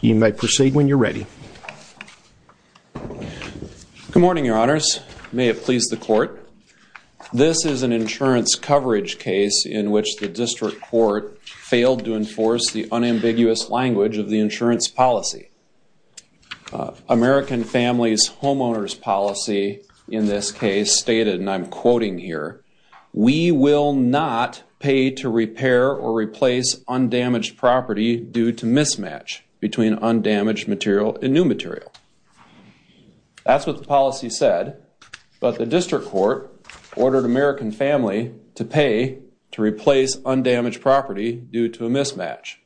You may proceed when you're ready. Good morning, your honors. May it please the court. This is an insurance coverage case in which the district court failed to enforce the unambiguous language of the insurance policy. American Families Homeowners Policy in this case stated, and I'm quoting here, we will not pay to repair or replace undamaged property due to mismatch between undamaged material and new material. That's what the policy said, but the district court ordered American Family to pay to replace undamaged property due to a mismatch.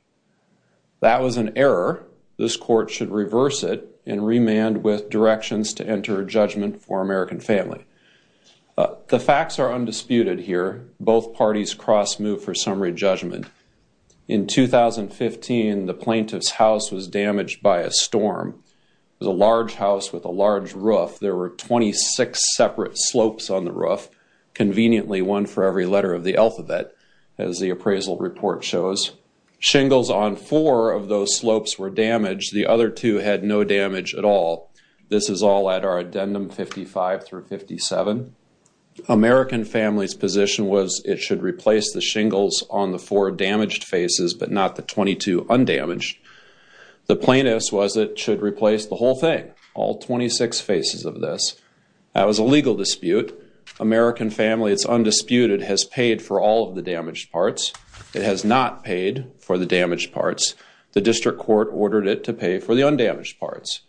That was an error. This court should reverse it and remand with directions to enter a judgment for American Family. The facts are undisputed here. Both parties cross move for summary judgment. In 2015, the plaintiff's house was damaged by a storm. It was a large house with a large roof. There were 26 separate slopes on the roof. Conveniently, one for every letter of the alphabet, as the appraisal report shows. Shingles on four of those slopes were damaged. The other two had no damage at all. This is all at our addendum 55 through 57. American Family's position was it should replace the shingles on the four damaged faces, but not the 22 undamaged. The plaintiff's was it should replace the whole thing, all 26 faces of this. That was a legal dispute. American Family, it's undisputed, has paid for all of the damaged parts. It has not paid for the damaged parts. The district court ordered it to pay for the undamaged parts.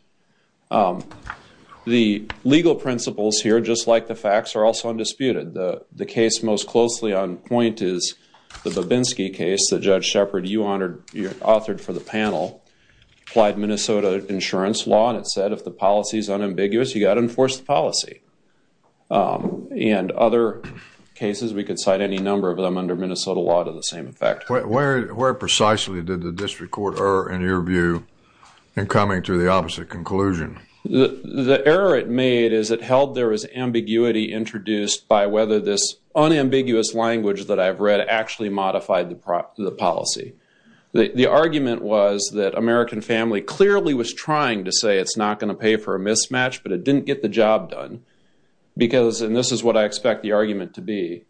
The legal principles here, just like the facts, are also undisputed. The case most closely on point is the Babinski case that Judge Shepard, you authored for the panel. Applied Minnesota insurance law, and it said if the policy is unambiguous, you've got to enforce the policy. And other cases, we could cite any number of them under Minnesota law to the same effect. Where precisely did the district court err in your view in coming to the opposite conclusion? The error it made is it held there to be introduced by whether this unambiguous language that I've read actually modified the policy. The argument was that American Family clearly was trying to say it's not going to pay for a mismatch, but it didn't get the job done. Because, and this is what I expect the argument to be,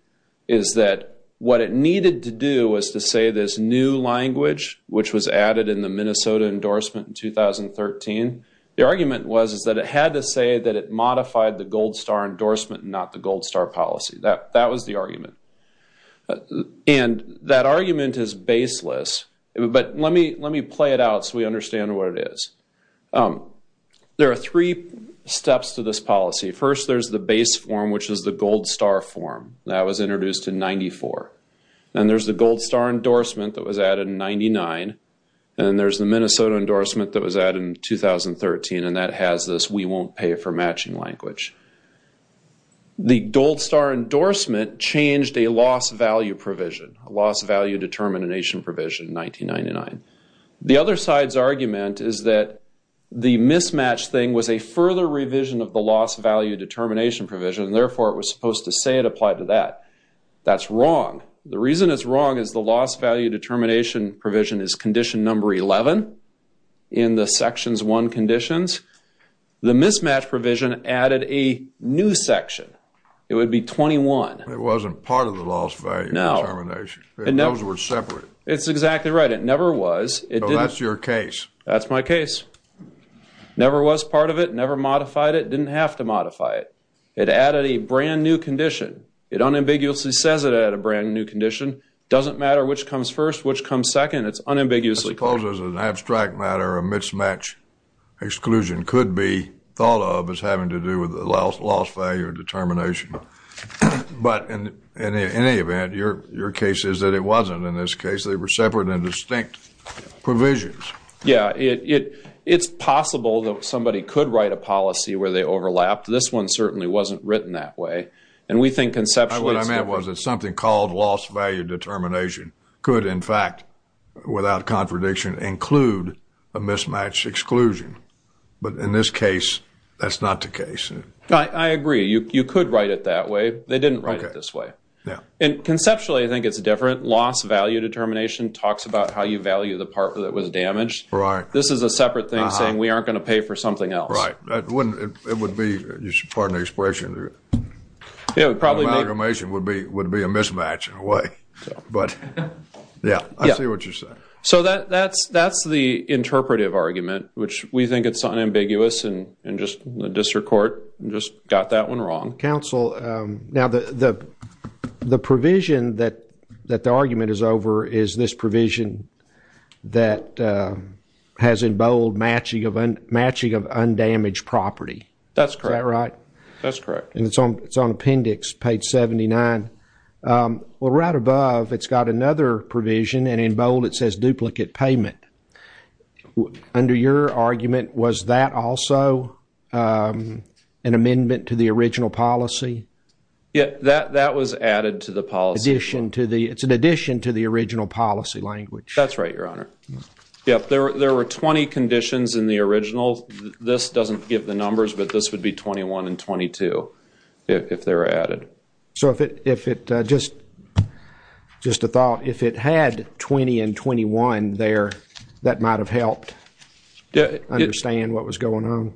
is that what it needed to do was to say this new language, which was added in the Minnesota endorsement in 2013, the argument was that it had to say that it was not the Gold Star policy. That was the argument. And that argument is baseless, but let me play it out so we understand what it is. There are three steps to this policy. First, there's the base form, which is the Gold Star form. That was introduced in 94. And there's the Gold Star endorsement that was added in 99. And there's the Minnesota endorsement that was added in 2013, and that has this we won't pay for matching language. The Gold Star endorsement changed a loss value provision, a loss value determination provision in 1999. The other side's argument is that the mismatch thing was a further revision of the loss value determination provision, and therefore it was supposed to say it applied to that. That's wrong. The reason it's wrong is the loss value determination provision is condition number 11 in the Sections 1 conditions. The mismatch provision added a new section. It would be 21. It wasn't part of the loss value determination. Those were separate. It's exactly right. It never was. So that's your case. That's my case. Never was part of it. Never modified it. Didn't have to modify it. It added a brand new condition. It unambiguously says it had a brand new condition. Doesn't matter which comes first, which comes second. It's unambiguously clear. I suppose there's an abstract matter where a mismatch exclusion could be thought of as having to do with the loss value determination. But in any event, your case is that it wasn't. In this case, they were separate and distinct provisions. Yeah. It's possible that somebody could write a policy where they overlapped. This one certainly wasn't written that way. And we think conceptually it's different. What I meant was that something called loss value determination could, in fact, without contradiction, include a mismatch exclusion. But in this case, that's not the case. I agree. You could write it that way. They didn't write it this way. And conceptually, I think it's different. Loss value determination talks about how you value the part that was damaged. This is a separate thing saying we aren't going to pay for something else. It would be, pardon the expression, amalgamation would be a mismatch in a way. I see what you're saying. That's the interpretive argument. We think it's unambiguous. The district court just got that one wrong. The provision that the argument is over is this provision that has in bold matching of undamaged property. Is that right? That's correct. It's on appendix page 79. Well, right above, it's got another provision, and in bold it says duplicate payment. Under your argument, was that also an amendment to the original policy? That was added to the policy. It's an addition to the original policy language. That's right, Your Honor. There were 20 conditions in the original. This doesn't give the numbers, but this would be 21 and 22 if they were added. Just a thought, if it had 20 and 21 there, that might have helped understand what was going on.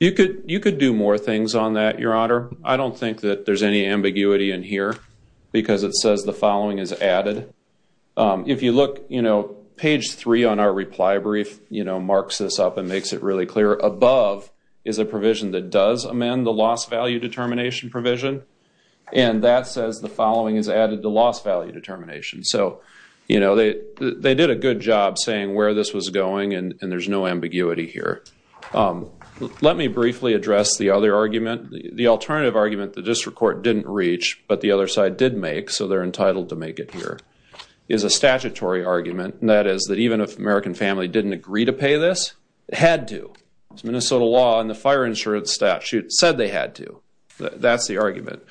You could do more things on that, Your Honor. I don't think that there's any ambiguity in here because it says the following is added. If you look, page 3 on our reply brief marks this up and makes it really clear. Above is a provision that does amend the loss value determination provision, and that says the following is added to loss value determination. They did a good job saying where this was going, and there's no ambiguity here. Let me briefly address the other argument. The alternative argument the district court didn't reach, but the other side did make, so they're entitled to make it here, is a statutory argument. That is, that even if the American family didn't agree to pay this, it had to. Minnesota law and the fire insurance statute said they had to. That's the argument.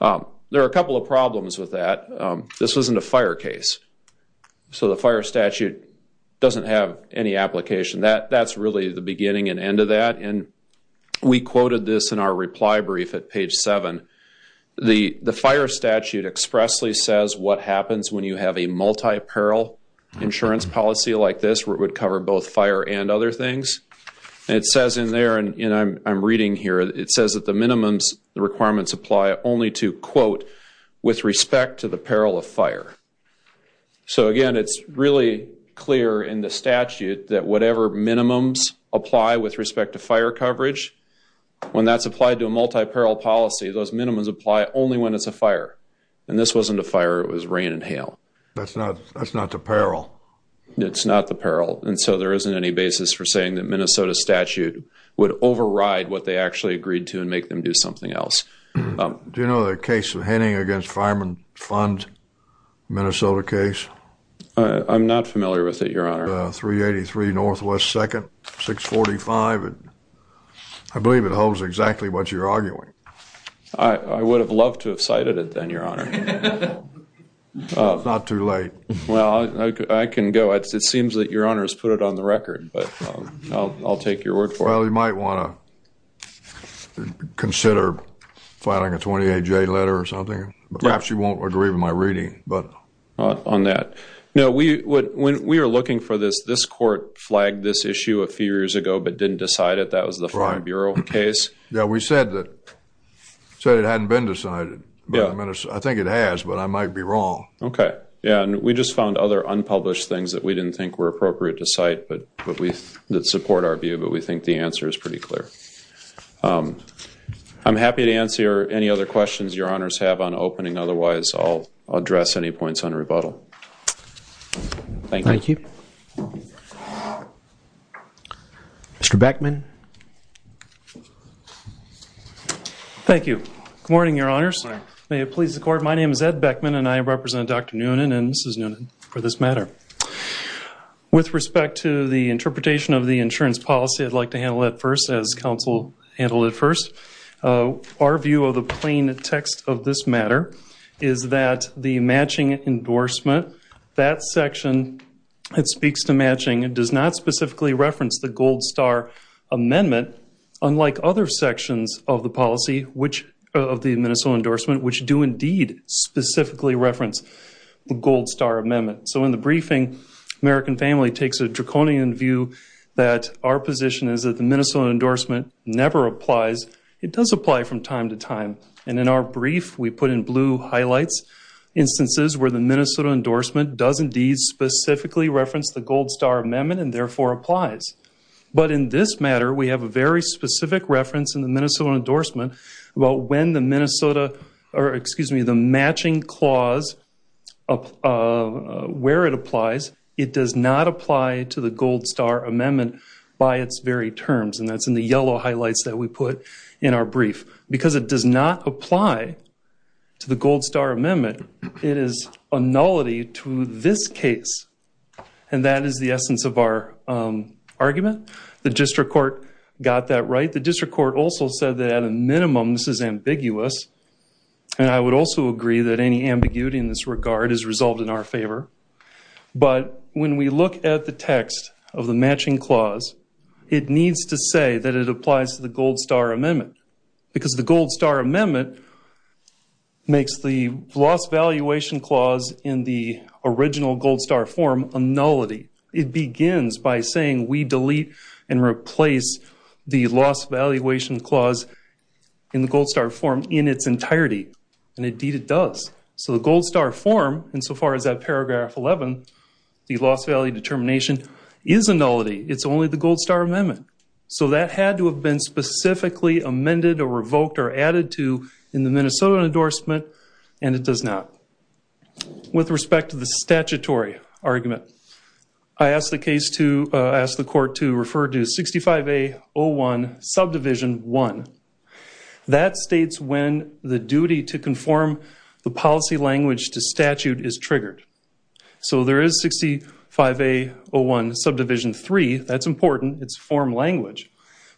There are a couple of problems with that. This wasn't a fire case, so the fire statute doesn't have any application. That's really the beginning and end of that. We quoted this in our reply brief at page 7. The fire statute expressly says what happens when you have a multi-parole insurance policy like this where it would cover both It says in there, and I'm reading here, it says that the minimum requirements apply only to, quote, with respect to the peril of fire. Again, it's really clear in the statute that whatever minimums apply with respect to fire coverage, when that's applied to a multi-parole policy, those minimums apply only when it's a fire. This wasn't a fire, it was rain and hail. That's not the peril. It's not the peril. There isn't any basis for saying that Minnesota statute would override what they actually agreed to and make them do something else. Do you know the case of Henning against Fireman Fund, Minnesota case? I'm not familiar with it, Your Honor. 383 Northwest 2nd, 645. I believe it holds exactly what you're arguing. I would have loved to have cited it then, Your Honor. It's not too late. Well, I can go. It seems that Your Honor has put it on the record, but I'll take your word for it. Well, you might want to consider filing a 28-J letter or something. Perhaps you won't agree with my reading. When we were looking for this, this court flagged this issue a few years ago but didn't decide it. That was the Fire Bureau case. Yeah, we said it hadn't been decided. I think it has, but I might be wrong. We just found other unpublished things that we didn't think were appropriate to cite that support our view, but we think the answer is pretty clear. I'm happy to answer any other questions Your Honors have on opening. Otherwise, I'll address any points on rebuttal. Thank you. Mr. Beckman. Thank you. Good morning, Your Honors. May it please the Court, my name is Ed Beckman and I represent Dr. Noonan and Mrs. Noonan for this matter. With respect to the interpretation of the insurance policy, I'd like to handle that first as counsel handled it first. Our view of the plain text of this matter is that the matching endorsement, that section that speaks to matching does not specifically reference the Gold Star Amendment, unlike other sections of the policy of the Minnesota endorsement, which do indeed specifically reference the Gold Star Amendment. So in the briefing, American Family takes a draconian view that our position is that the Minnesota endorsement never applies. It does apply from time to time. And in our brief, we put in blue highlights instances where the Minnesota endorsement does indeed specifically reference the Gold Star Amendment and therefore applies. But in this matter, we have a very specific reference in the Minnesota endorsement about when the matching clause where it applies, it does not apply to the Gold Star Amendment by its very terms. And that's in the yellow highlights that we put in our brief. Because it does not apply to the Gold Star Amendment, it is a nullity to this case. And that is the essence of our argument. The District Court also said that at a minimum, this is ambiguous. And I would also agree that any ambiguity in this regard is resolved in our favor. But when we look at the text of the matching clause, it needs to say that it applies to the Gold Star Amendment. Because the Gold Star Amendment makes the loss valuation clause in the original Gold Star form a nullity. It begins by saying we delete and remove the loss valuation clause in the Gold Star form in its entirety. And indeed it does. So the Gold Star form, insofar as that paragraph 11, the loss value determination, is a nullity. It's only the Gold Star Amendment. So that had to have been specifically amended or revoked or added to in the Minnesota endorsement and it does not. With respect to the statutory argument, I asked the court to refer to 65A01 Subdivision 1. That states when the duty to conform the policy language to statute is triggered. So there is 65A01 Subdivision 3. That's important. It's form language.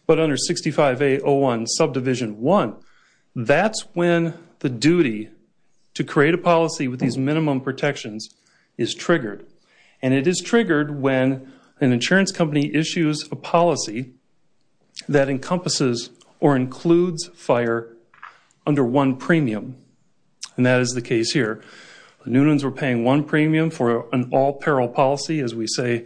But under 65A01 Subdivision 1, that's when the duty to create a policy with these minimum protections is triggered. And it is triggered when an insurance company issues a policy that encompasses or includes fire under one premium. And that is the case here. Newtons were paying one premium for an all peril policy, as we say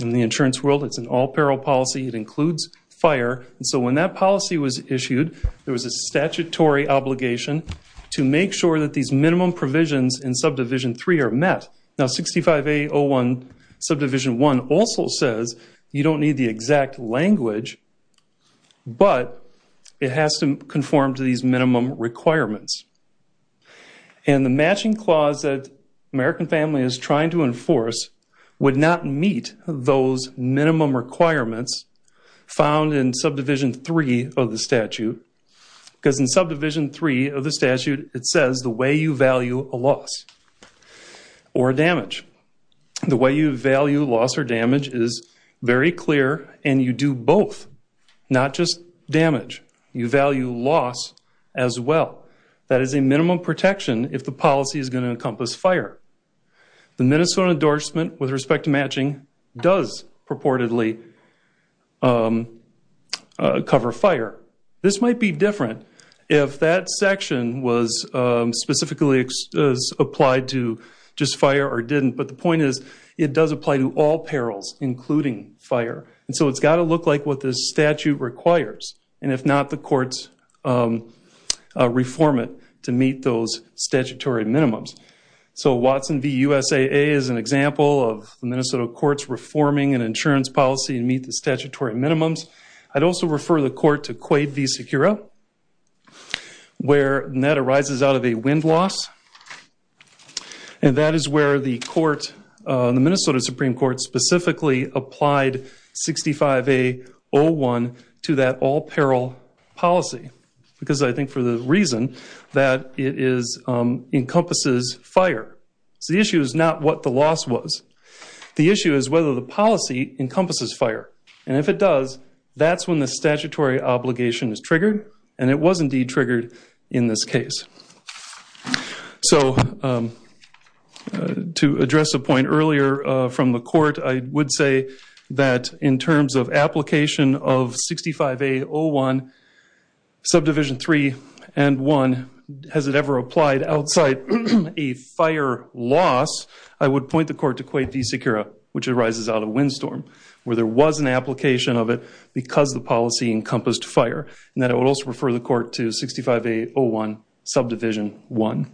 in the insurance world. It's an all peril policy. It includes fire. So when that policy was issued, there was a statutory obligation to make sure that these minimum provisions in Subdivision 3 are met. Now 65A01 Subdivision 1 also says you don't need the exact language but it has to conform to these minimum requirements. And the matching clause that American Family is trying to enforce would not meet those minimum requirements found in Subdivision 3 of the statute. Because in Subdivision 3 of the statute, it says the way you value a loss or damage. The way you value loss or damage is very clear and you do both. Not just damage. You value loss as well. That is a minimum protection if the policy is going to encompass fire. The Minnesota endorsement with respect to matching does purportedly cover fire. This might be different if that section was specifically applied to just fire or didn't. But the point is it does apply to all perils including fire. So it's got to look like what this statute requires. And if not, the courts reform it to meet those statutory minimums. So Watson v. USAA is an example of the Minnesota courts reforming an insurance policy to meet the statutory minimums. I'd also refer the court to Quade v. Secura where that arises out of a wind loss. And that is where the court, the Minnesota Supreme Court specifically applied 65A01 to that all peril policy. Because I think for the reason that it encompasses fire. The issue is not what the loss was. The issue is whether the policy encompasses fire. And if it does, that's when the statutory obligation is triggered. And it was indeed triggered in this case. So to address a point earlier from the court, I would say that in terms of application of 65A01 subdivision 3 and 1, has it ever applied outside a fire loss, I would point the court to Quade v. Secura which arises out of windstorm. Where there was an application of it because the policy encompassed fire. And then I would also refer the court to 65A01 subdivision 1.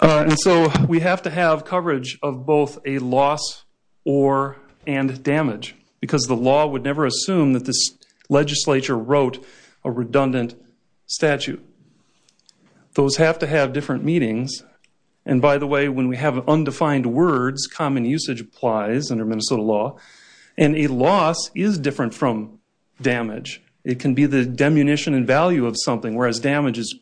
And so we have to have coverage of both a loss or and damage. Because the law would never assume that this legislature wrote a redundant statute. Those have to have different meanings. And by the way, when we have undefined words, common usage applies under Minnesota law. And a loss is different from damage. It can be the demunition and value of something, whereas damage is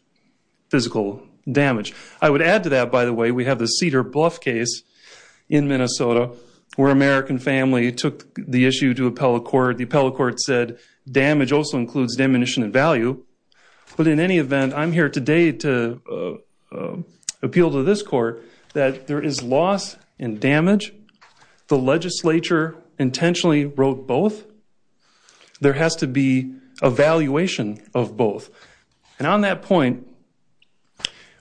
physical damage. I would add to that, by the way, we have the Cedar Bluff case in Minnesota where an American family took the issue to appellate court. The appellate court said damage also includes demunition and value. But in any event, I'm here today to appeal to this court that there is loss and damage. The legislature intentionally wrote both. There has to be a valuation of both. And on that point,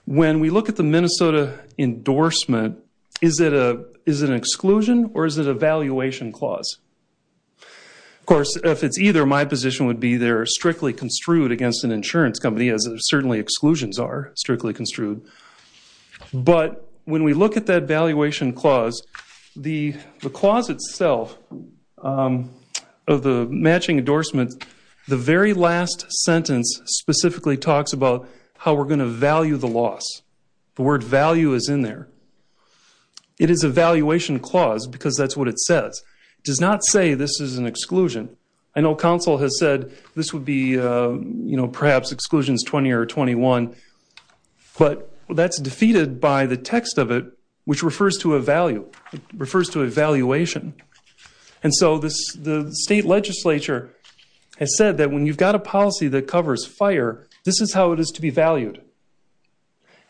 when we look at the Minnesota endorsement, is it an exclusion or is it a valuation clause? Of course if it's either, my position would be they're strictly construed against an insurance company as certainly exclusions are strictly construed. But when we look at that valuation clause the clause itself of the matching endorsement, the very last sentence specifically talks about how we're going to value the loss. The word value is in there. It is a valuation clause because that's what it says. It does not say this is an exclusion. I know counsel has said this would be perhaps exclusions 20 or 21, but that's defeated by the text of it which refers to a value, refers to a valuation. And so the state legislature has said that when you've got a policy that covers fire, this is how it is to be valued.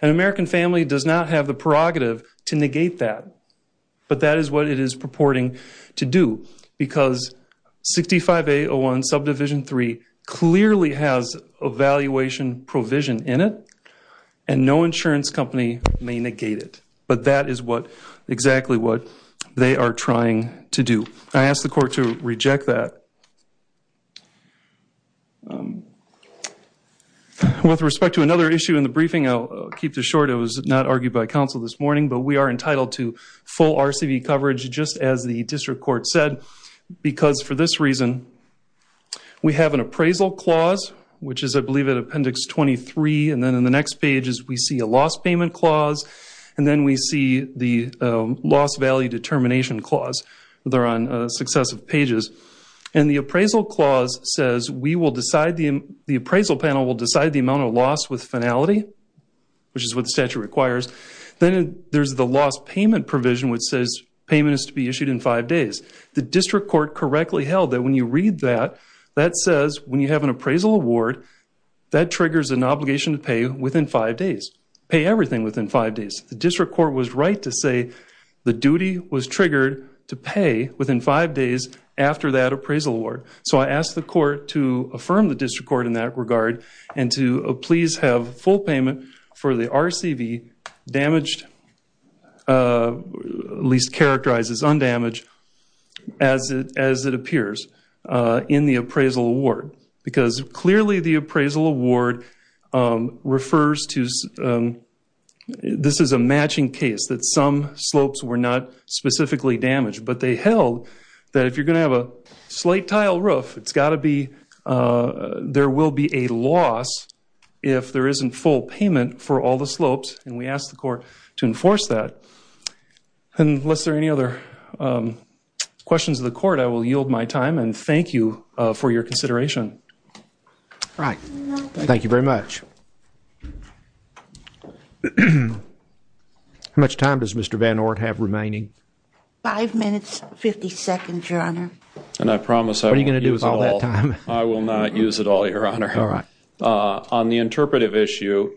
An American family does not have the prerogative to negate that. But that is what it is purporting to do because 65A01 subdivision 3 clearly has a valuation provision in it and no insurance company may negate it. But that is what exactly what they are trying to do. I ask the court to reject that. With respect to another issue in the briefing, I'll keep this short it was not argued by counsel this morning, but we are entitled to full RCV coverage just as the district court said because for this reason we have an appraisal clause which is I believe in appendix 23 and then in the next page we see a loss payment clause and then we see the loss value determination clause that are on successive pages. And the appraisal clause says the appraisal panel will decide the amount of loss with finality, which is what the statute requires. Then there's the loss payment provision which says payment is to be issued in five days. The district court correctly held that when you read that, that says when you have an appraisal award, that triggers an obligation to pay within five days. Pay everything within five days. The district court was right to say the duty was triggered to pay within five days after that appraisal award. So I ask the court to affirm the district court in that regard and to please have full payment for the RCV damaged, at least characterized as undamaged as it appears in the appraisal award because clearly the appraisal award refers to this is a matching case that some slopes were not specifically damaged but they held that if you're going to have a slight tile roof, it's got to be there will be a loss if there isn't full payment for all the slopes and we ask the court to enforce that Unless there are any other questions to the court, I will yield my time and thank you for your consideration. Thank you very much. How much time does Mr. Van Oort have remaining? Five minutes, fifty seconds, Your Honor. What are you going to do with all that time? I will not use it all, Your Honor. On the interpretive issue,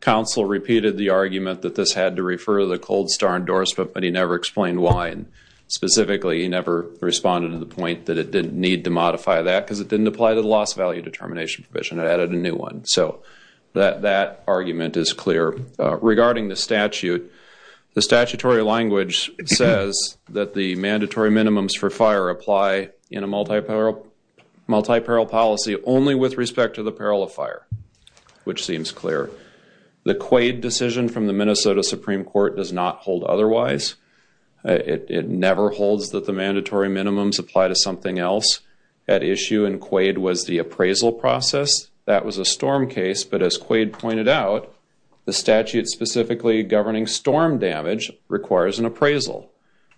counsel repeated the argument that this had to refer to the cold star endorsement but he never explained why and specifically he never responded to the point that it didn't need to modify that because it didn't apply to the loss value determination provision, it added a new one. So that argument is clear. Regarding the statute, the statutory language says that the mandatory minimums for fire apply in a multi-parole policy only with respect to the peril of fire, which seems clear. The Quaid decision from the Minnesota Supreme Court does not hold otherwise. It never holds that the mandatory minimums apply to something else. At issue in Quaid was the appraisal process. That was a storm case but as Quaid pointed out the statute specifically governing storm damage requires an appraisal.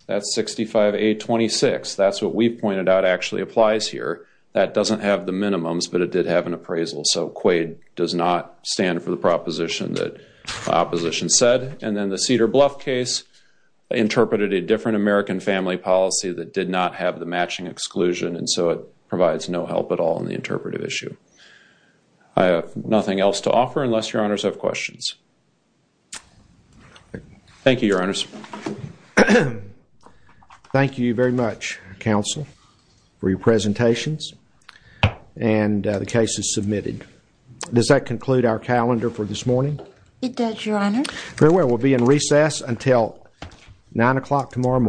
That's 65A26. That's what we pointed out actually applies here. That doesn't have the minimums but it did have an appraisal so Quaid does not stand for the proposition that my opposition said. And then the Cedar Bluff case interpreted a different American family policy that did not have the matching exclusion and so it provides no help at all in the interpretive issue. I have nothing else to offer unless your honors have questions. Thank you your honors. Thank you very much counsel for your presentations and the cases submitted. Does that conclude our calendar for this morning? It does your honors. Very well. We'll be in recess until 9 o'clock tomorrow morning.